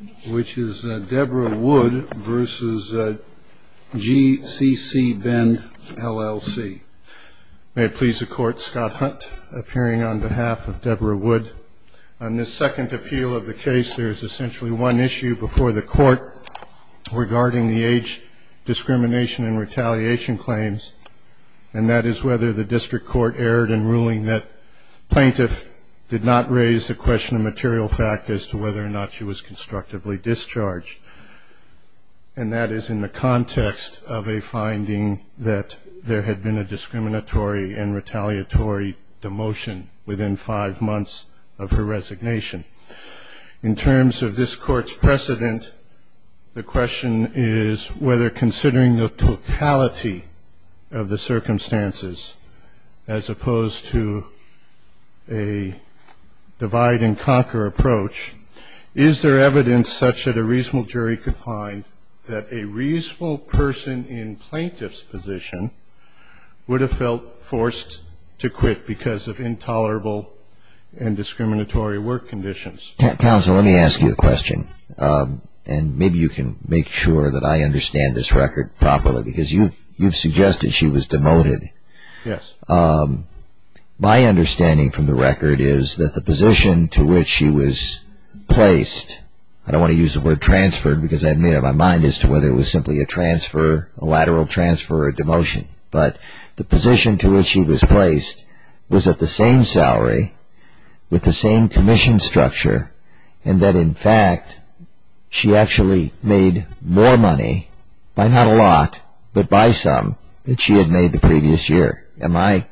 May it please the Court, Scott Hunt, appearing on behalf of Debra Wood. On this second appeal of the case, there is essentially one issue before the Court regarding the age discrimination and retaliation claims, and that is whether the District Court erred in ruling that plaintiff did not raise the question of material fact as to whether or not she was considered to be under age discrimination. And that is in the context of a finding that there had been a discriminatory and retaliatory demotion within five months of her resignation. In terms of this Court's precedent, the question is whether, considering the totality of the circumstances, as opposed to a divide-and-conquer approach, is there evidence that the plaintiff did not raise the question of material fact as to whether or not she was considered to be under age discrimination and retaliation claims, and that is essentially one issue before the Court regarding the case. There is no evidence such that a reasonable jury could find that a reasonable person in plaintiff's position would have felt forced to quit because of intolerable and discriminatory work conditions. Counsel, let me ask you a question, and maybe you can make sure that I understand this record properly, because you've suggested she was demoted. Yes. My understanding from the record is that the position to which she was placed, I don't want to use the word transferred because I had made up my mind as to whether it was simply a transfer, a lateral transfer, or a demotion, but the position to which she was placed was at the same salary, with the same commission structure, and that in fact she actually made more money, by not a lot, but by some, than she had made the previous year. Am I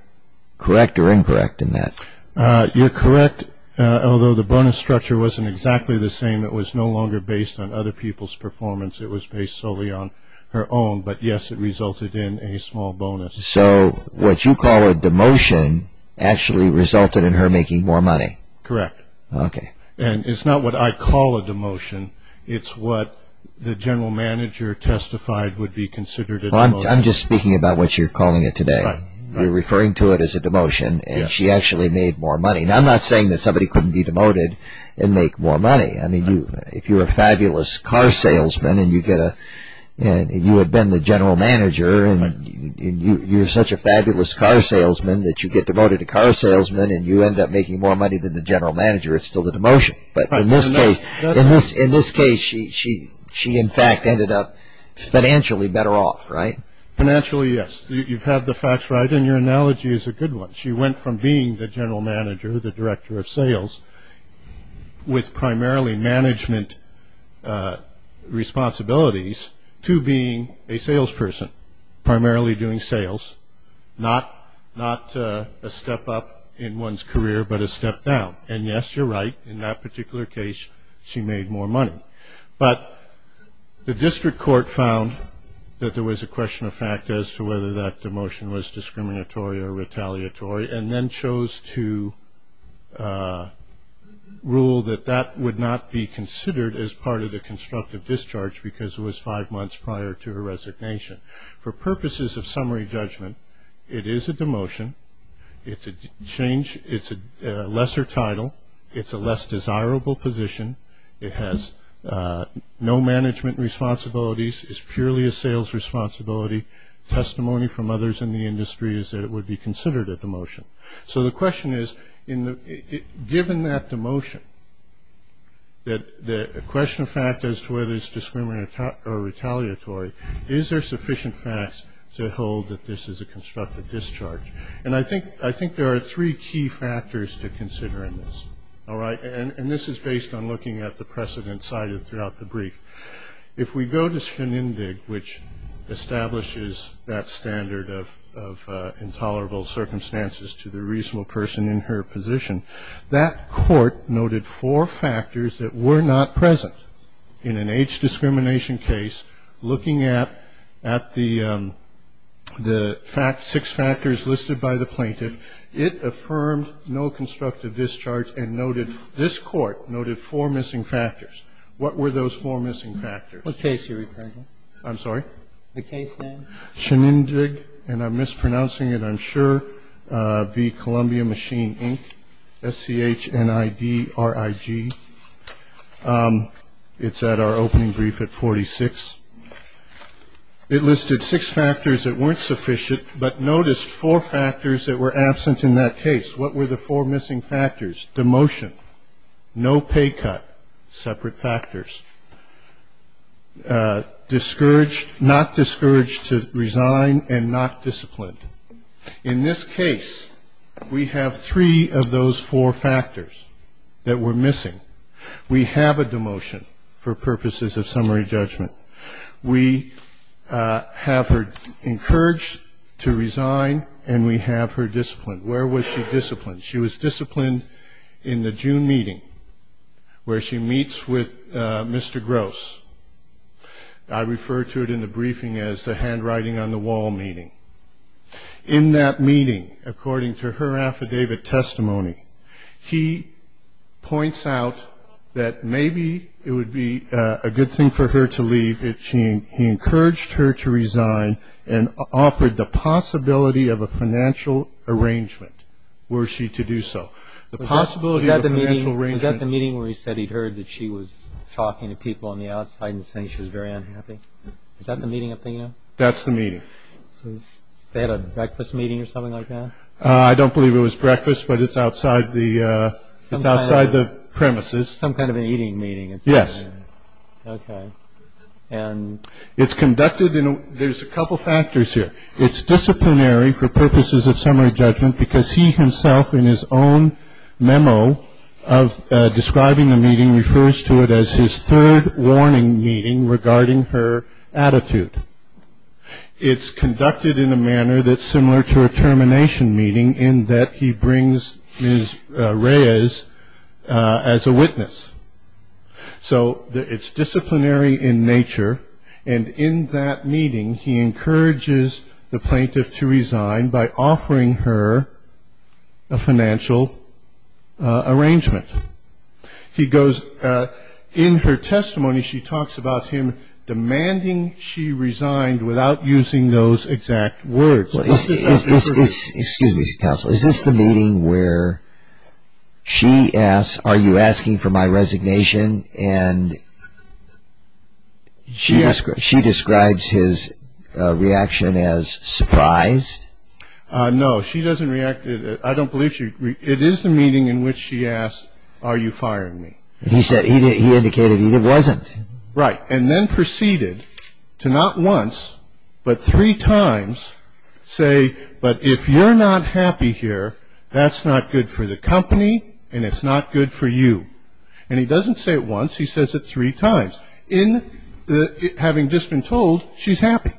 correct or incorrect in that? You're correct, although the bonus structure wasn't exactly the same, it was no longer based on other people's performance, it was based solely on her own, but yes, it resulted in a small bonus. So what you call a demotion actually resulted in her making more money? Correct. And it's not what I call a demotion, it's what the general manager testified would be considered a demotion. I'm just speaking about what you're calling it today, you're referring to it as a demotion, and she actually made more money. Now I'm not saying that somebody couldn't be demoted and make more money, I mean, if you're a fabulous car salesman and you get a, and you had been the general manager, and you're such a fabulous car salesman that you get demoted to car salesman and you end up making more money than the general manager. It's still a demotion, but in this case she in fact ended up financially better off, right? Financially, yes, you've had the facts right, and your analogy is a good one. She went from being the general manager, the director of sales, with primarily management responsibilities, to being a salesperson, primarily doing sales, not a step up in one's career, but a step down. And yes, you're right, in that particular case, she made more money. But the district court found that there was a question of fact as to whether that demotion was discriminatory or retaliatory, and then chose to rule that that would not be considered as part of the constructive discharge because it was five months prior to her resignation. For purposes of summary judgment, it is a demotion, it's a change, it's a lesser time, it's a change, it's a demotion. It has no title, it's a less desirable position, it has no management responsibilities, it's purely a sales responsibility. Testimony from others in the industry is that it would be considered a demotion. So the question is, given that demotion, the question of fact as to whether it's discriminatory or retaliatory, is there sufficient facts to hold that this is a constructive discharge? And I think there are three key factors to consider in this, all right? And this is based on looking at the precedent cited throughout the brief. If we go to Schoenindig, which establishes that standard of intolerable circumstances to the reasonable person in her position, that court noted four factors that were not present in an age discrimination case, looking at the six factors listed by the plaintiff, it affirmed no constructive discharge and noted, this Court noted four missing factors. What were those four missing factors? Kagan. The case you're referring to? I'm sorry? The case name. Schoenindig, and I'm mispronouncing it, I'm sure, V. Columbia Machine, Inc., S-C-H-N-I-D-R-I-G. It's at our opening brief at 46. It listed six factors that weren't sufficient, but noticed four factors that were absent in that case. What were the four missing factors? Demotion, no pay cut, separate factors. Discouraged, not discouraged to resign, and not disciplined. In this case, we have three of those four factors that were missing. We have a demotion for purposes of summary judgment. We have her encouraged to resign, and we have her disciplined. Where was she disciplined? She was disciplined in the June meeting where she meets with Mr. Gross. I refer to it in the briefing as the handwriting on the wall meeting. In that meeting, according to her affidavit testimony, he points out that maybe it would be a good thing for her to leave if he encouraged her to resign and offered the possibility of a financial arrangement were she to do so. Was that the meeting where he said he'd heard that she was talking to people on the outside and saying she was very unhappy? Is that the meeting I'm thinking of? That's the meeting. So they had a breakfast meeting or something like that? I don't believe it was breakfast, but it's outside the premises. Some kind of an eating meeting. Yes. Okay. It's conducted in a – there's a couple factors here. It's disciplinary for purposes of summary judgment because he himself in his own memo of describing the meeting refers to it as his third warning meeting regarding her attitude. It's conducted in a manner that's similar to a termination meeting in that he brings Ms. Reyes as a witness. So it's disciplinary in nature, and in that meeting he encourages the plaintiff to resign by offering her a financial arrangement. He goes – in her testimony she talks about him demanding she resigned without using those exact words. Excuse me, counsel. Is this the meeting where she asks, are you asking for my resignation? And she describes his reaction as surprised? No, she doesn't react – I don't believe she – it is the meeting in which she asks, are you firing me? He said he indicated he wasn't. Right. And then proceeded to not once but three times say, but if you're not happy here that's not good for the company and it's not good for you. And he doesn't say it once, he says it three times, having just been told she's happy.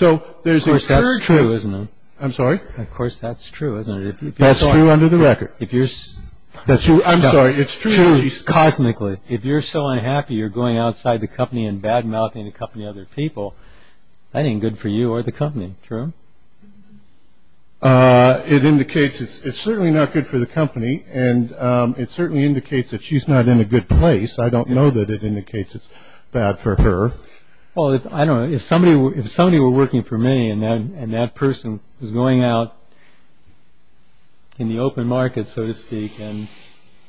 Of course that's true, isn't it? I'm sorry? Of course that's true, isn't it? That's true under the record. I'm sorry, it's true. It's true cosmically. If you're so unhappy you're going outside the company and bad-mouthing the company and other people, that ain't good for you or the company, true? It indicates it's certainly not good for the company and it certainly indicates that she's not in a good place. I don't know that it indicates it's bad for her. Well, if somebody were working for me and that person was going out in the open market, so to speak,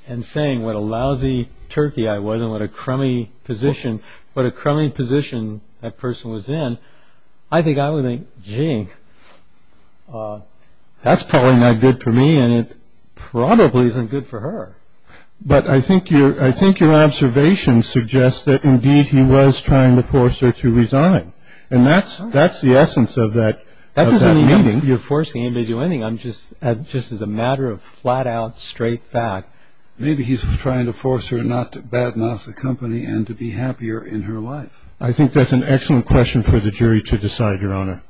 and saying what a lousy turkey I was and what a crummy position that person was in, I think I would think, gee, that's probably not good for me and it probably isn't good for her. But I think your observation suggests that indeed he was trying to force her to resign. And that's the essence of that meeting. You're forcing him to do anything just as a matter of flat-out straight fact. Maybe he's trying to force her not to bad-mouth the company and to be happier in her life. I think that's an excellent question for the jury to decide, Your Honor.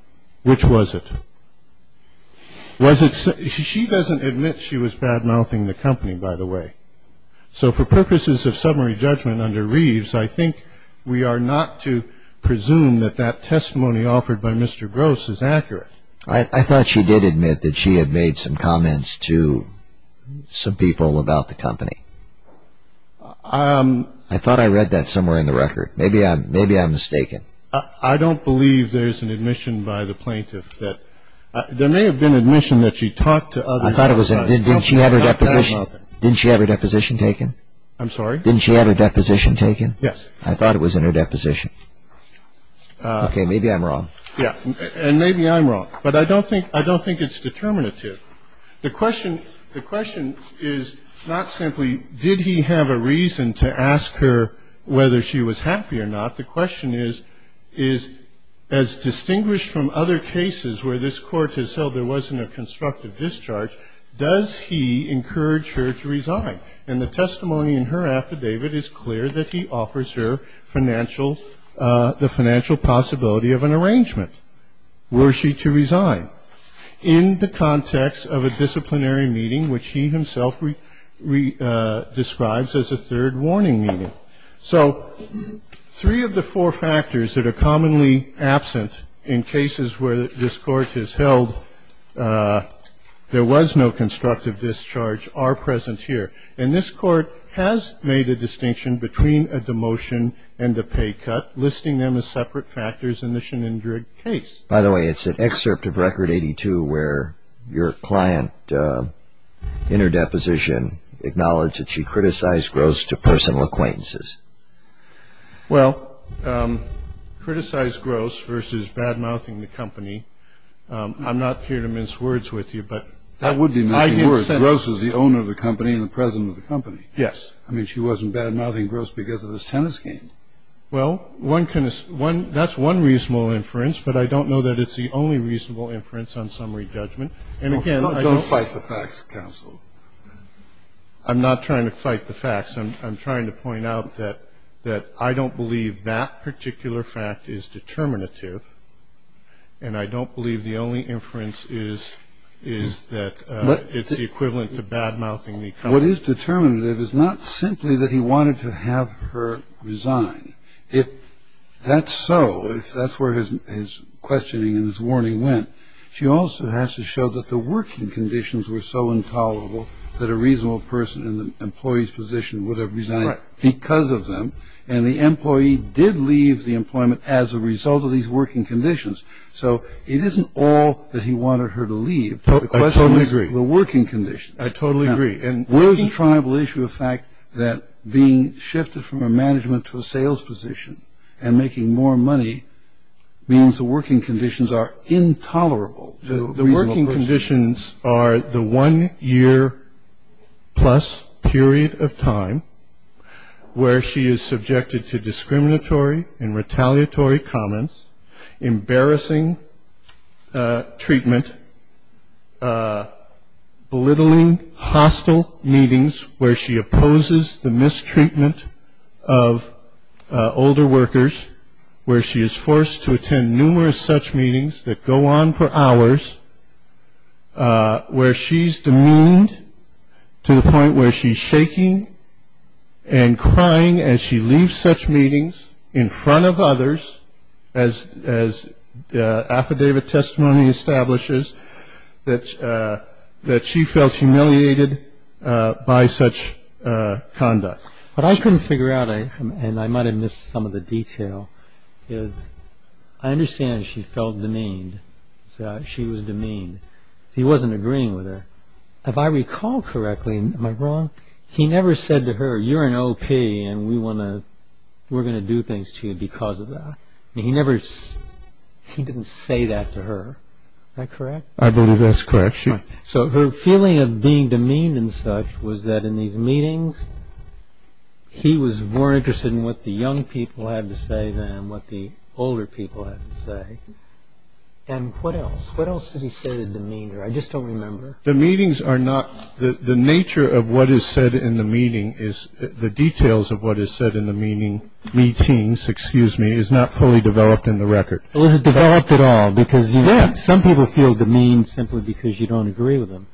Which was it? She doesn't admit she was bad-mouthing the company, by the way. So for purposes of summary judgment under Reeves, I think we are not to presume that that testimony offered by Mr. Gross is accurate. I thought she did admit that she had made some comments to some people about the company. I thought I read that somewhere in the record. Maybe I'm mistaken. I don't believe there's an admission by the plaintiff that – there may have been admission that she talked to others about it. Didn't she have her deposition taken? I'm sorry? Didn't she have her deposition taken? Yes. I thought it was in her deposition. Okay. Maybe I'm wrong. Yeah. And maybe I'm wrong. But I don't think it's determinative. The question is not simply did he have a reason to ask her whether she was happy or not. The question is, as distinguished from other cases where this Court has held there wasn't a constructive discharge, does he encourage her to resign? And the testimony in her affidavit is clear that he offers her the financial possibility of an arrangement. Were she to resign? In the context of a disciplinary meeting, which he himself describes as a third warning meeting. So three of the four factors that are commonly absent in cases where this Court has held there was no constructive discharge are present here. And this Court has made a distinction between a demotion and a pay cut, listing them as separate factors in the Schindrig case. By the way, it's an excerpt of Record 82 where your client, in her deposition, acknowledged that she criticized Gross to personal acquaintances. Well, criticized Gross versus bad-mouthing the company, I'm not here to mince words with you. That would be mincing words. Gross was the owner of the company and the president of the company. Yes. I mean, she wasn't bad-mouthing Gross because of this tennis game. Well, one can assume one – that's one reasonable inference, but I don't know that it's the only reasonable inference on summary judgment. And again, I don't – Don't fight the facts, counsel. I'm not trying to fight the facts. I'm trying to point out that I don't believe that particular fact is determinative, and I don't believe the only inference is that it's the equivalent to bad-mouthing the company. What is determinative is not simply that he wanted to have her resign. If that's so, if that's where his questioning and his warning went, she also has to show that the working conditions were so intolerable that a reasonable person in the employee's position would have resigned because of them, and the employee did leave the employment as a result of these working conditions. So it isn't all that he wanted her to leave. I totally agree. The question is the working conditions. I totally agree. Now, where is the triable issue of the fact that being shifted from a management to a sales position and making more money means the working conditions are intolerable to a reasonable person? The working conditions are the one-year-plus period of time where she is subjected to discriminatory and retaliatory comments, embarrassing treatment, belittling hostile meetings where she opposes the mistreatment of older workers, where she is forced to attend numerous such meetings that go on for hours, where she's demeaned to the point where she's shaking and crying as she leaves such meetings in front of others, as affidavit testimony establishes, that she felt humiliated by such conduct. What I couldn't figure out, and I might have missed some of the detail, is I understand she felt demeaned. She was demeaned. He wasn't agreeing with her. If I recall correctly, am I wrong? He never said to her, you're an O.P. and we're going to do things to you because of that. He didn't say that to her. Am I correct? I believe that's correct. So her feeling of being demeaned and such was that in these meetings he was more interested in what the young people had to say than what the older people had to say. And what else? What else did he say to demeanor? I just don't remember. The meetings are not – the nature of what is said in the meeting is – the details of what is said in the meetings is not fully developed in the record. It wasn't developed at all because some people feel demeaned simply because you don't agree with them.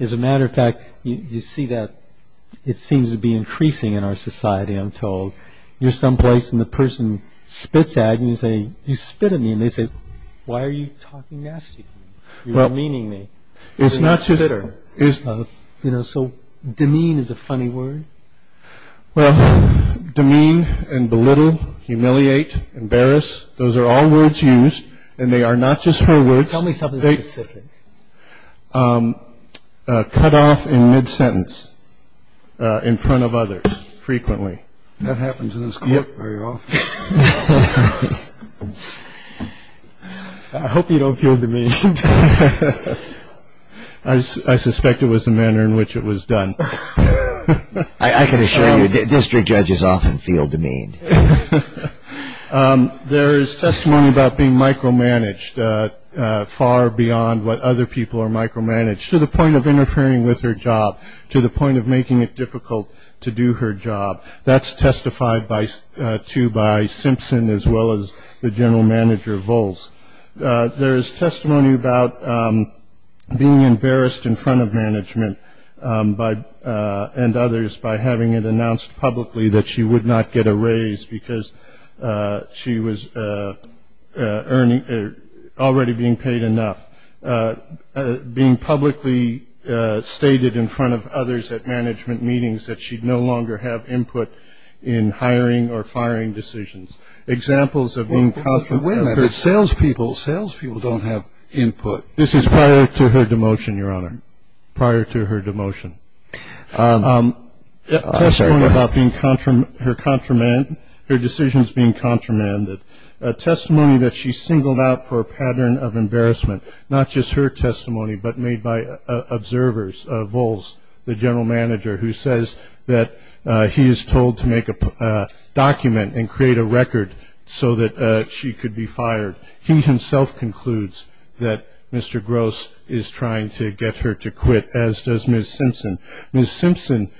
As a matter of fact, you see that it seems to be increasing in our society, I'm told. You're someplace and the person spits at you and you say, you spit at me. And they say, why are you talking nasty to me? You're demeaning me. You're a spitter. So demean is a funny word? Well, demean and belittle, humiliate, embarrass, those are all words used. And they are not just her words. Tell me something specific. Cut off in mid-sentence in front of others frequently. That happens in this court very often. I hope you don't feel demeaned. I suspect it was the manner in which it was done. I can assure you district judges often feel demeaned. There is testimony about being micromanaged, far beyond what other people are micromanaged, to the point of interfering with her job, to the point of making it difficult to do her job. That's testified to by Simpson as well as the general manager, Volz. There is testimony about being embarrassed in front of management and others by having it announced publicly that she would not get a raise because she was already being paid enough. Being publicly stated in front of others at management meetings that she'd no longer have input in hiring or firing decisions. Examples of being confident. Wait a minute. Salespeople don't have input. This is prior to her demotion, Your Honor, prior to her demotion. Testimony about her decisions being contramanded. Testimony that she singled out for a pattern of embarrassment. Not just her testimony, but made by observers, Volz, the general manager, who says that he is told to make a document and create a record so that she could be fired. He himself concludes that Mr. Gross is trying to get her to quit, as does Ms. Simpson. Ms. Simpson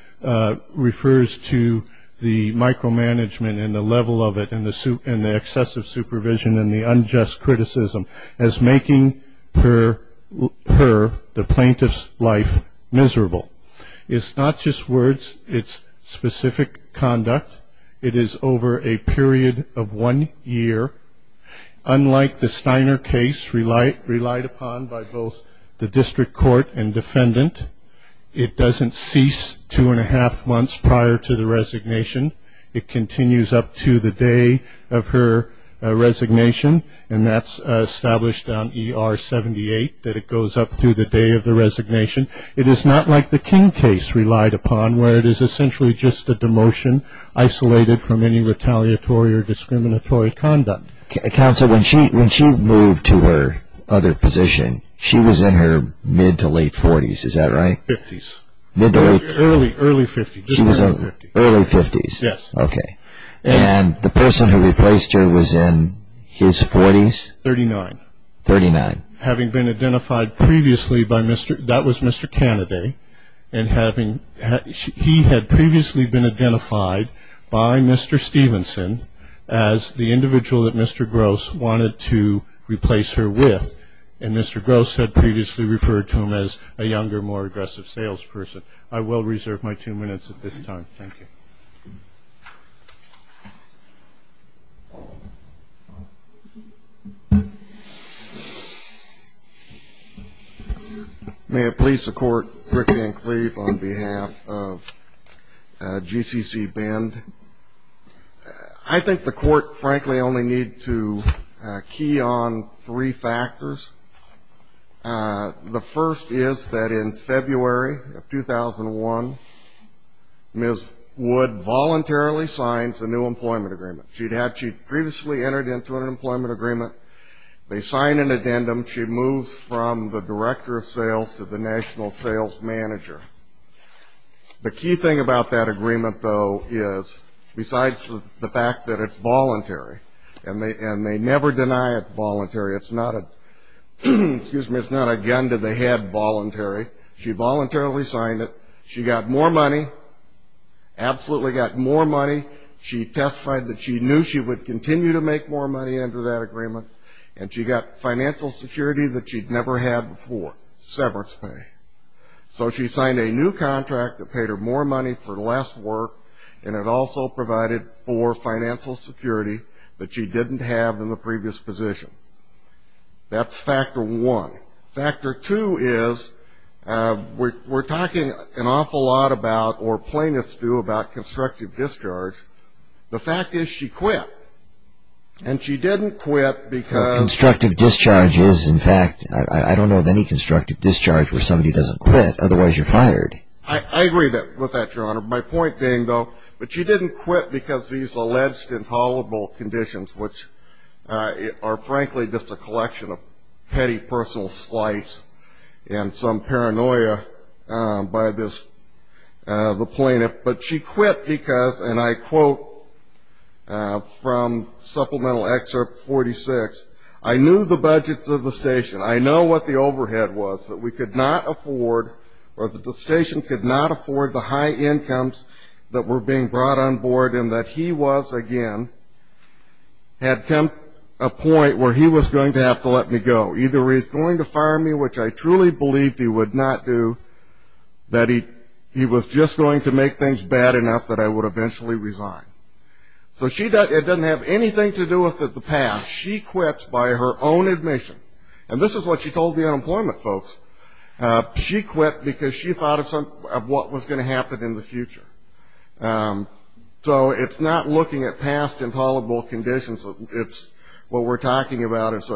refers to the micromanagement and the level of it and the excessive supervision and the unjust criticism as making her, the plaintiff's life, miserable. It's not just words. It's specific conduct. It is over a period of one year. Unlike the Steiner case relied upon by both the district court and defendant, it doesn't cease two and a half months prior to the resignation. It continues up to the day of her resignation, and that's established on ER 78 that it goes up through the day of the resignation. It is not like the King case relied upon, where it is essentially just a demotion. Isolated from any retaliatory or discriminatory conduct. Counsel, when she moved to her other position, she was in her mid to late 40s. Is that right? 50s. Mid to late? Early 50s. Early 50s. Yes. Okay. And the person who replaced her was in his 40s? 39. 39. Having been identified previously by Mr. That was Mr. Kennedy. And he had previously been identified by Mr. Stevenson as the individual that Mr. Gross wanted to replace her with. And Mr. Gross had previously referred to him as a younger, more aggressive salesperson. I will reserve my two minutes at this time. Thank you. May it please the Court, Rick Van Cleef on behalf of GCC Bend. I think the Court, frankly, only needs to key on three factors. The first is that in February of 2001, Ms. Wood voluntarily signs a new employment agreement. She had previously entered into an employment agreement. They sign an addendum. She moves from the director of sales to the national sales manager. The key thing about that agreement, though, is, besides the fact that it's voluntary, and they never deny it's voluntary, it's not a gun to the head voluntary. She voluntarily signed it. She got more money, absolutely got more money. She testified that she knew she would continue to make more money under that agreement, and she got financial security that she'd never had before, severance pay. So she signed a new contract that paid her more money for less work, and it also provided for financial security that she didn't have in the previous position. That's factor one. Factor two is we're talking an awful lot about, or plaintiffs do, about constructive discharge. The fact is she quit, and she didn't quit because of constructive discharges. In fact, I don't know of any constructive discharge where somebody doesn't quit, otherwise you're fired. I agree with that, Your Honor. My point being, though, that she didn't quit because of these alleged intolerable conditions, which are, frankly, just a collection of petty personal slights and some paranoia by the plaintiff. But she quit because, and I quote from Supplemental Excerpt 46, I knew the budgets of the station. I know what the overhead was that we could not afford, or that the station could not afford the high incomes that were being brought on board, and that he was, again, had come to a point where he was going to have to let me go. Either he was going to fire me, which I truly believed he would not do, that he was just going to make things bad enough that I would eventually resign. So it doesn't have anything to do with the past. She quits by her own admission. And this is what she told the unemployment folks. She quit because she thought of what was going to happen in the future. So it's not looking at past intolerable conditions. It's what we're talking about is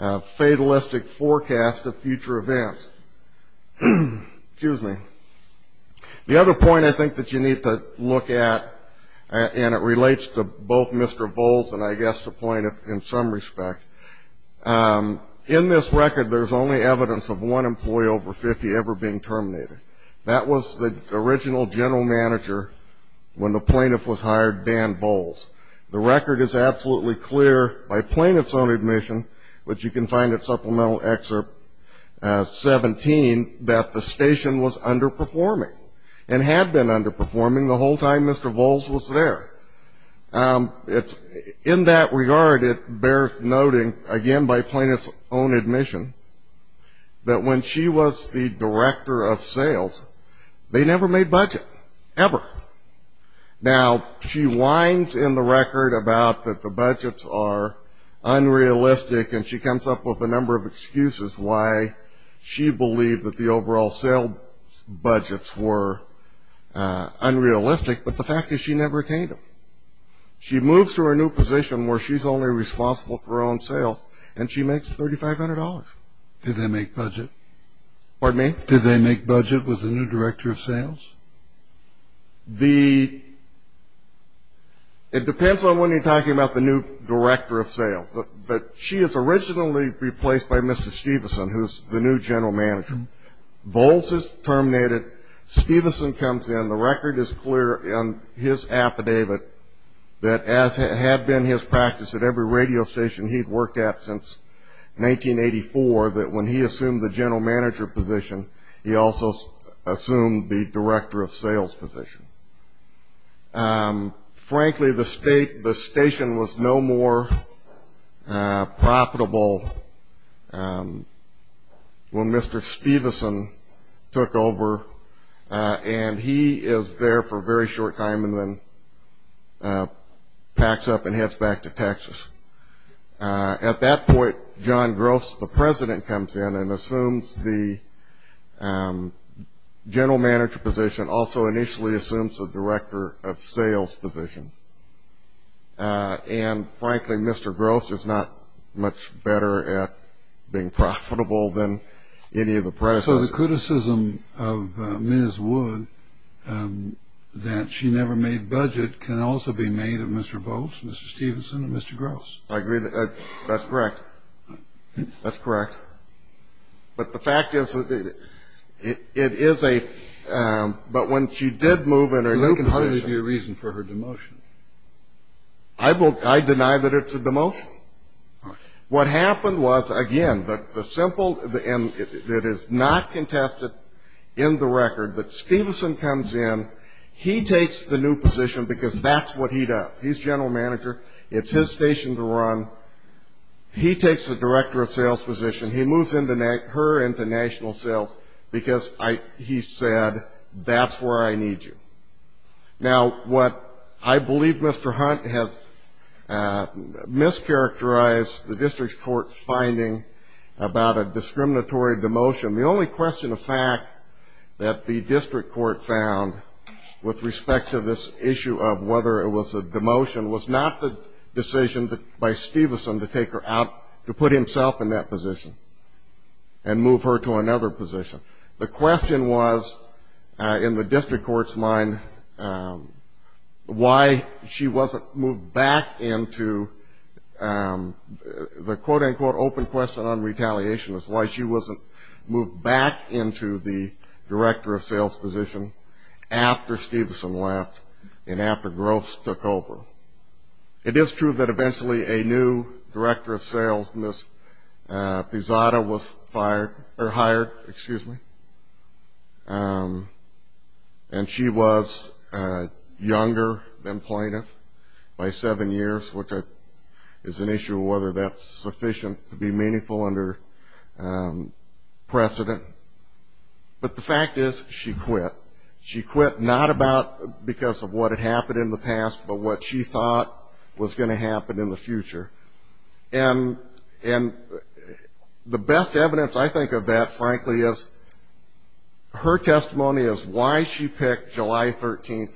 a fatalistic forecast of future events. Excuse me. The other point I think that you need to look at, and it relates to both Mr. Volz and I guess the plaintiff in some respect, in this record there's only evidence of one employee over 50 ever being terminated. That was the original general manager when the plaintiff was hired, Dan Volz. The record is absolutely clear by plaintiff's own admission, which you can find at Supplemental Excerpt 17, that the station was underperforming and had been underperforming the whole time Mr. Volz was there. In that regard, it bears noting, again by plaintiff's own admission, that when she was the director of sales, they never made budget, ever. Now, she whines in the record about that the budgets are unrealistic, and she comes up with a number of excuses why she believed that the overall sale budgets were unrealistic. But the fact is she never attained them. She moves to her new position where she's only responsible for her own sales, and she makes $3,500. Did they make budget? Pardon me? Did they make budget with the new director of sales? It depends on when you're talking about the new director of sales. She is originally replaced by Mr. Steveson, who's the new general manager. Volz is terminated. Steveson comes in. The record is clear in his affidavit that, as had been his practice at every radio station he'd worked at since 1984, that when he assumed the general manager position, he also assumed the director of sales position. Frankly, the station was no more profitable when Mr. Steveson took over, and he is there for a very short time and then packs up and heads back to Texas. At that point, John Gross, the president, comes in and assumes the general manager position, also initially assumes the director of sales position. And, frankly, Mr. Gross is not much better at being profitable than any of the predecessors. So the criticism of Ms. Wood that she never made budget can also be made of Mr. Volz, Mr. Steveson, and Mr. Gross. I agree. That's correct. That's correct. But the fact is, it is a ‑‑ but when she did move in her new position ‑‑ There can hardly be a reason for her demotion. I deny that it's a demotion. What happened was, again, the simple ‑‑ and it is not contested in the record that Steveson comes in, he takes the new position because that's what he does. He's general manager. It's his station to run. He takes the director of sales position. He moves her into national sales because he said, that's where I need you. Now, what I believe Mr. Hunt has mischaracterized the district court's finding about a discriminatory demotion, the only question of fact that the district court found with respect to this issue of whether it was a demotion was not the decision by Steveson to take her out, to put himself in that position and move her to another position. The question was, in the district court's mind, why she wasn't moved back into the, quote, unquote, open question on retaliation is why she wasn't moved back into the director of sales position after Steveson left and after Gross took over. It is true that eventually a new director of sales, Ms. Pizzotta, was hired. Excuse me. And she was younger than plaintiff by seven years, which is an issue of whether that's sufficient to be meaningful under precedent. But the fact is she quit. She quit not about because of what had happened in the past, but what she thought was going to happen in the future. And the best evidence, I think, of that, frankly, is her testimony is why she picked July 13th,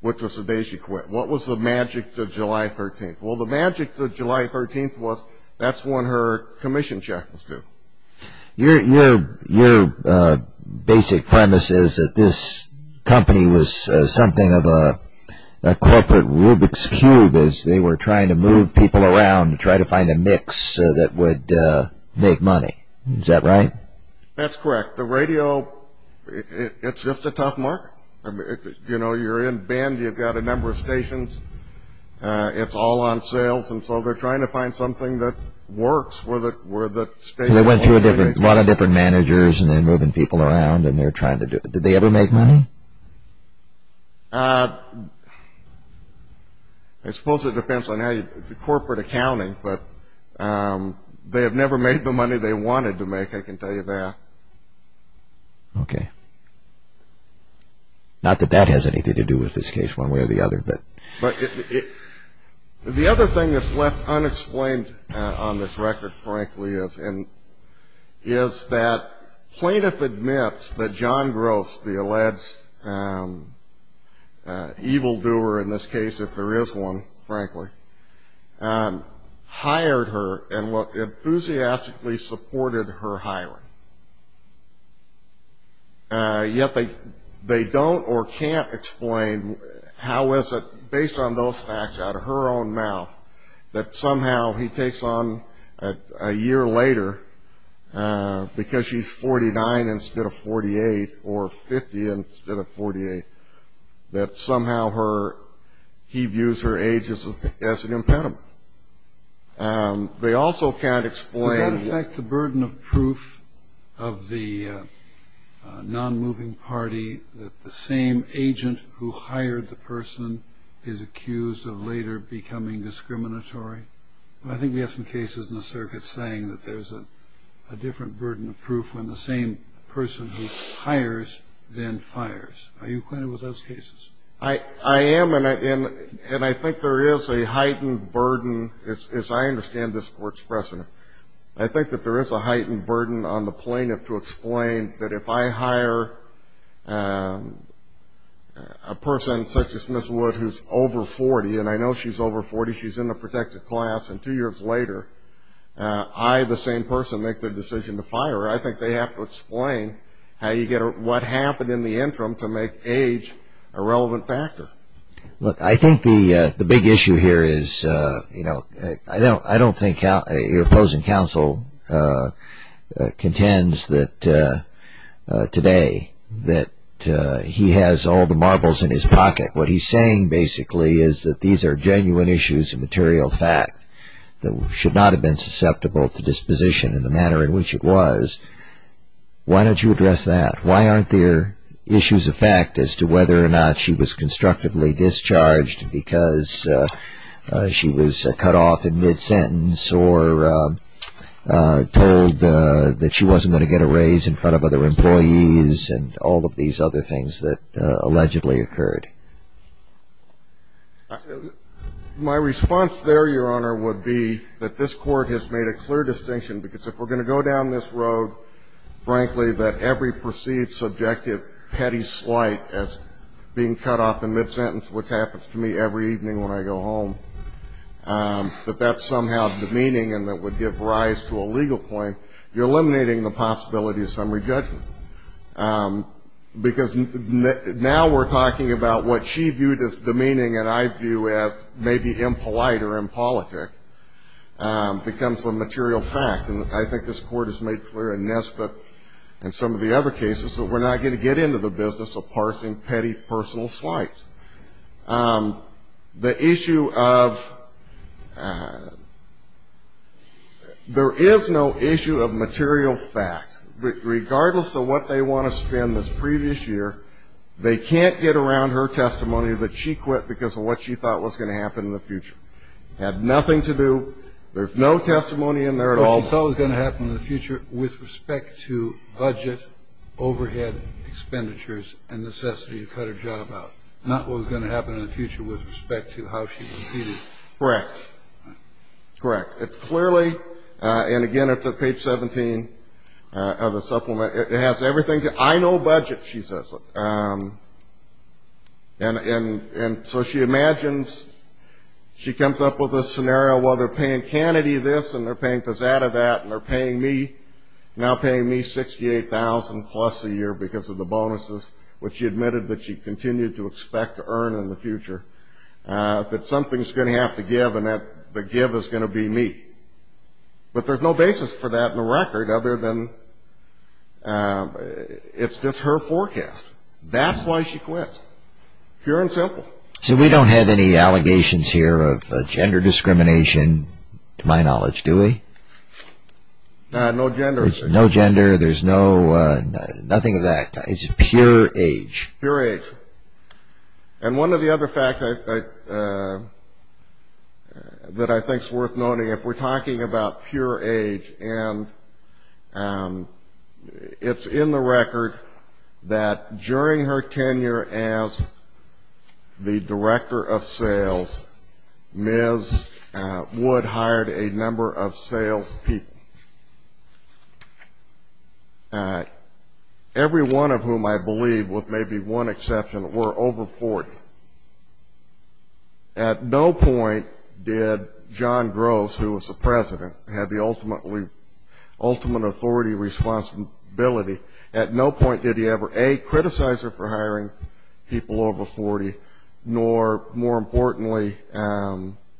which was the day she quit. What was the magic to July 13th? Well, the magic to July 13th was that's when her commission check was due. Your basic premise is that this company was something of a corporate Rubik's Cube as they were trying to move people around to try to find a mix that would make money. Is that right? That's correct. The radio, it's just a tough market. You know, you're in Bend. You've got a number of stations. It's all on sales. And so they're trying to find something that works. They went through a lot of different managers, and they're moving people around, and they're trying to do it. Did they ever make money? I suppose it depends on the corporate accounting. But they have never made the money they wanted to make, I can tell you that. Okay. Not that that has anything to do with this case one way or the other. But the other thing that's left unexplained on this record, frankly, is that plaintiff admits that John Gross, the alleged evildoer in this case, if there is one, frankly, hired her and enthusiastically supported her hiring. Yet they don't or can't explain how is it, based on those facts out of her own mouth, that somehow he takes on a year later, because she's 49 instead of 48, or 50 instead of 48, that somehow he views her age as an impediment. They also can't explain. Does that affect the burden of proof of the non-moving party that the same agent who hired the person is accused of later becoming discriminatory? I think we have some cases in the circuit saying that there's a different burden of proof when the same person who hires then fires. Are you acquainted with those cases? I am, and I think there is a heightened burden, as I understand this Court's precedent, I think that there is a heightened burden on the plaintiff to explain that if I hire a person, such as Ms. Wood, who's over 40, and I know she's over 40, she's in a protected class, and two years later I, the same person, make the decision to fire her, I think they have to explain what happened in the interim to make age a relevant factor. Look, I think the big issue here is, you know, I don't think your opposing counsel contends that today that he has all the marbles in his pocket. What he's saying basically is that these are genuine issues of material fact that should not have been susceptible to disposition in the manner in which it was. Why don't you address that? Why aren't there issues of fact as to whether or not she was constructively discharged because she was cut off in mid-sentence or told that she wasn't going to get a raise in front of other employees and all of these other things that allegedly occurred? My response there, Your Honor, would be that this Court has made a clear distinction because if we're going to go down this road, frankly, that every perceived subjective petty slight as being cut off in mid-sentence, which happens to me every evening when I go home, that that's somehow demeaning and that would give rise to a legal point. You're eliminating the possibility of summary judgment because now we're talking about what she viewed as demeaning and I view as maybe impolite or impolitic becomes a material fact. And I think this Court has made clear in Nesbitt and some of the other cases that we're not going to get into the business of parsing petty personal slights. The issue of – there is no issue of material fact. Regardless of what they want to spin this previous year, they can't get around her testimony that she quit because of what she thought was going to happen in the future. It had nothing to do – there's no testimony in there at all. What she thought was going to happen in the future with respect to budget, overhead, expenditures, and necessity to cut her job out, not what was going to happen in the future with respect to how she competed. Correct. Correct. It's clearly – and again, it's at page 17 of the supplement. It has everything to – I know budget, she says. And so she imagines – she comes up with a scenario. Well, they're paying Kennedy this and they're paying Pissatta that and they're paying me – now paying me $68,000 plus a year because of the bonuses, which she admitted that she continued to expect to earn in the future, that something's going to have to give and that the give is going to be me. But there's no basis for that in the record other than it's just her forecast. That's why she quits, pure and simple. So we don't have any allegations here of gender discrimination to my knowledge, do we? No gender. No gender. There's no – nothing of that. It's pure age. Pure age. And one of the other facts that I think is worth noting, if we're talking about pure age, and it's in the record that during her tenure as the director of sales, Ms. Wood hired a number of salespeople, every one of whom I believe, with maybe one exception, were over 40. At no point did John Groves, who was the president, have the ultimate authority, responsibility. At no point did he ever, A, criticize her for hiring people over 40, nor, more importantly,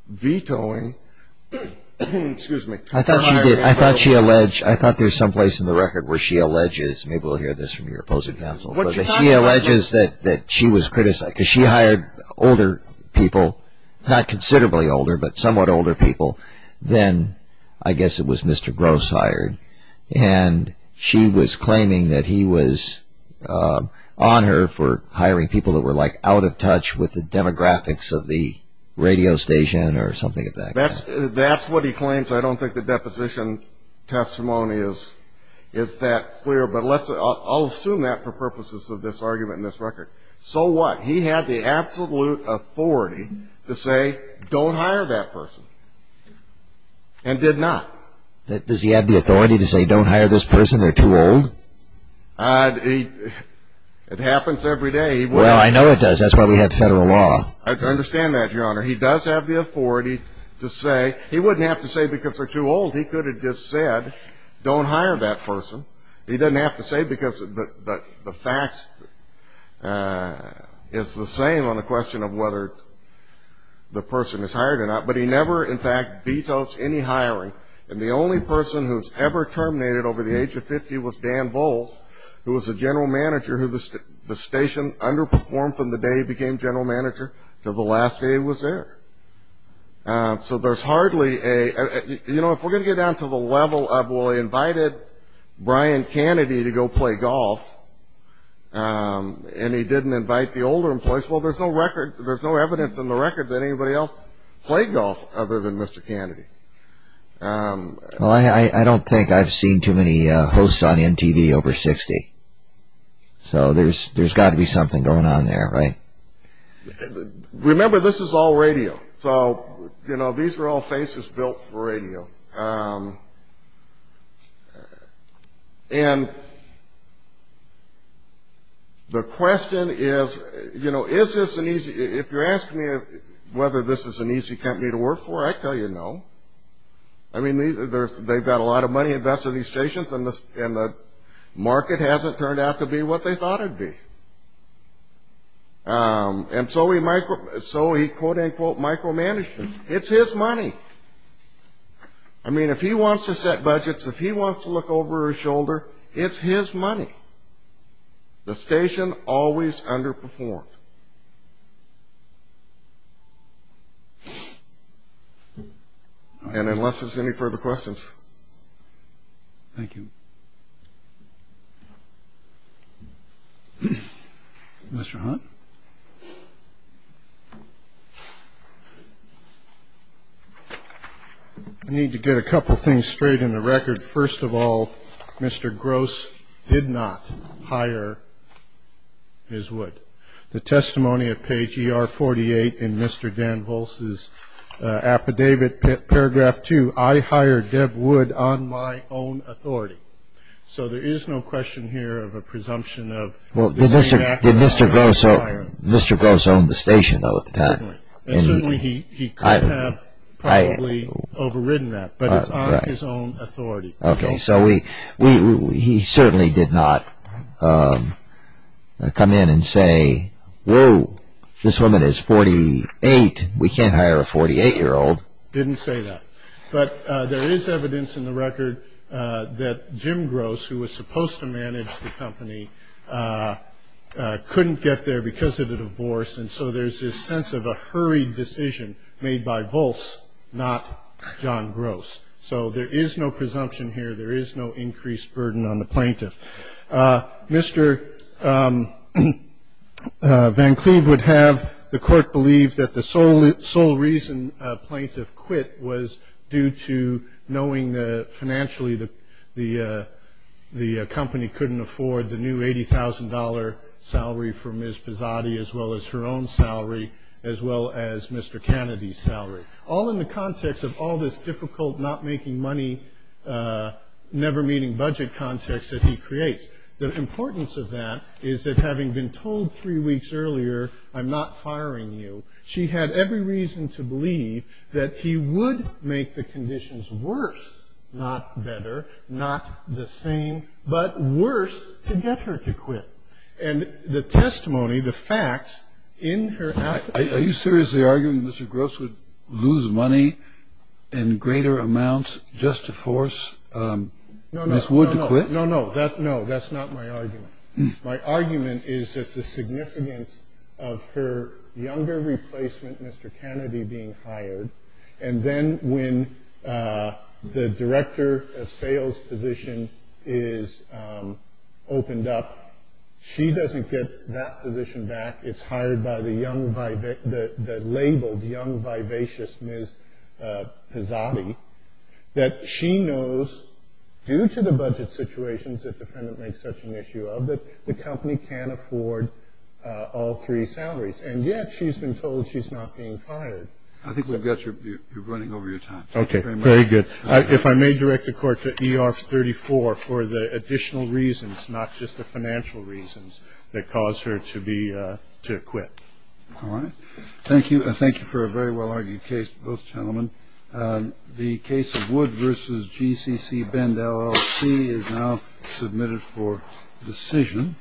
vetoing – excuse me – I thought she did. I thought she alleged – I thought there's some place in the record where she alleges – maybe we'll hear this from your opposing counsel – but she alleges that she was – because she hired older people, not considerably older, but somewhat older people, than I guess it was Mr. Groves hired. And she was claiming that he was on her for hiring people that were, like, out of touch with the demographics of the radio station or something of that kind. That's what he claims. I don't think the deposition testimony is that clear. But let's – I'll assume that for purposes of this argument in this record. So what? He had the absolute authority to say, don't hire that person, and did not. Does he have the authority to say, don't hire this person, they're too old? It happens every day. Well, I know it does. That's why we have federal law. I understand that, Your Honor. He does have the authority to say – he wouldn't have to say because they're too old. He could have just said, don't hire that person. He doesn't have to say because the facts is the same on the question of whether the person is hired or not. But he never, in fact, vetoes any hiring. And the only person who was ever terminated over the age of 50 was Dan Volz, who was the general manager who the station underperformed from the day he became general manager until the last day he was there. So there's hardly a – you know, if we're going to get down to the level of, well, he invited Brian Kennedy to go play golf, and he didn't invite the older employees. Well, there's no record – there's no evidence in the record that anybody else played golf other than Mr. Kennedy. Well, I don't think I've seen too many hosts on MTV over 60. So there's got to be something going on there, right? Remember, this is all radio. So, you know, these are all faces built for radio. And the question is, you know, is this an easy – if you're asking me whether this is an easy company to work for, I'd tell you no. I mean, they've got a lot of money invested in these stations, and the market hasn't turned out to be what they thought it would be. And so he quote, unquote, micromanaged them. It's his money. I mean, if he wants to set budgets, if he wants to look over his shoulder, it's his money. The station always underperformed. And unless there's any further questions. Thank you. Mr. Hunt. I need to get a couple things straight in the record. First of all, Mr. Gross did not hire his wood. The testimony of page ER-48 in Mr. Dan Volce's affidavit, paragraph 2, I hired Deb Wood on my own authority. So there is no question here of a presumption of – Well, did Mr. Gross own the station, though, at the time? Certainly. He could have probably overridden that, but it's on his own authority. Okay. So he certainly did not come in and say, whoa, this woman is 48, we can't hire a 48-year-old. Didn't say that. But there is evidence in the record that Jim Gross, who was supposed to manage the company, couldn't get there because of the divorce, and so there's this sense of a hurried decision made by Volce, not John Gross. So there is no presumption here. There is no increased burden on the plaintiff. Mr. Van Cleve would have the court believe that the sole reason a plaintiff quit was due to knowing that financially the company couldn't afford the new $80,000 salary for Ms. Pizzotti, as well as her own salary, as well as Mr. Kennedy's salary. All in the context of all this difficult, not-making-money, never-meeting-budget context that he creates. The importance of that is that, having been told three weeks earlier, I'm not firing you, she had every reason to believe that he would make the conditions worse, not better, not the same, but worse, to get her to quit. And the testimony, the facts, in her act of doing that. So this would lose money in greater amounts just to force Ms. Wood to quit? No, no, that's not my argument. My argument is that the significance of her younger replacement, Mr. Kennedy, being hired, and then when the director of sales position is opened up, she doesn't get that position back. It's hired by the labeled young, vivacious Ms. Pizzotti, that she knows, due to the budget situations that the defendant makes such an issue of, that the company can't afford all three salaries. And yet, she's been told she's not being fired. I think we've got you. You're running over your time. Okay, very good. If I may direct the court to E.R. 34 for the additional reasons, not just the financial reasons that cause her to quit. All right. Thank you. Thank you for a very well-argued case, both gentlemen. The case of Wood v. GCC Bend LLC is now submitted for decision.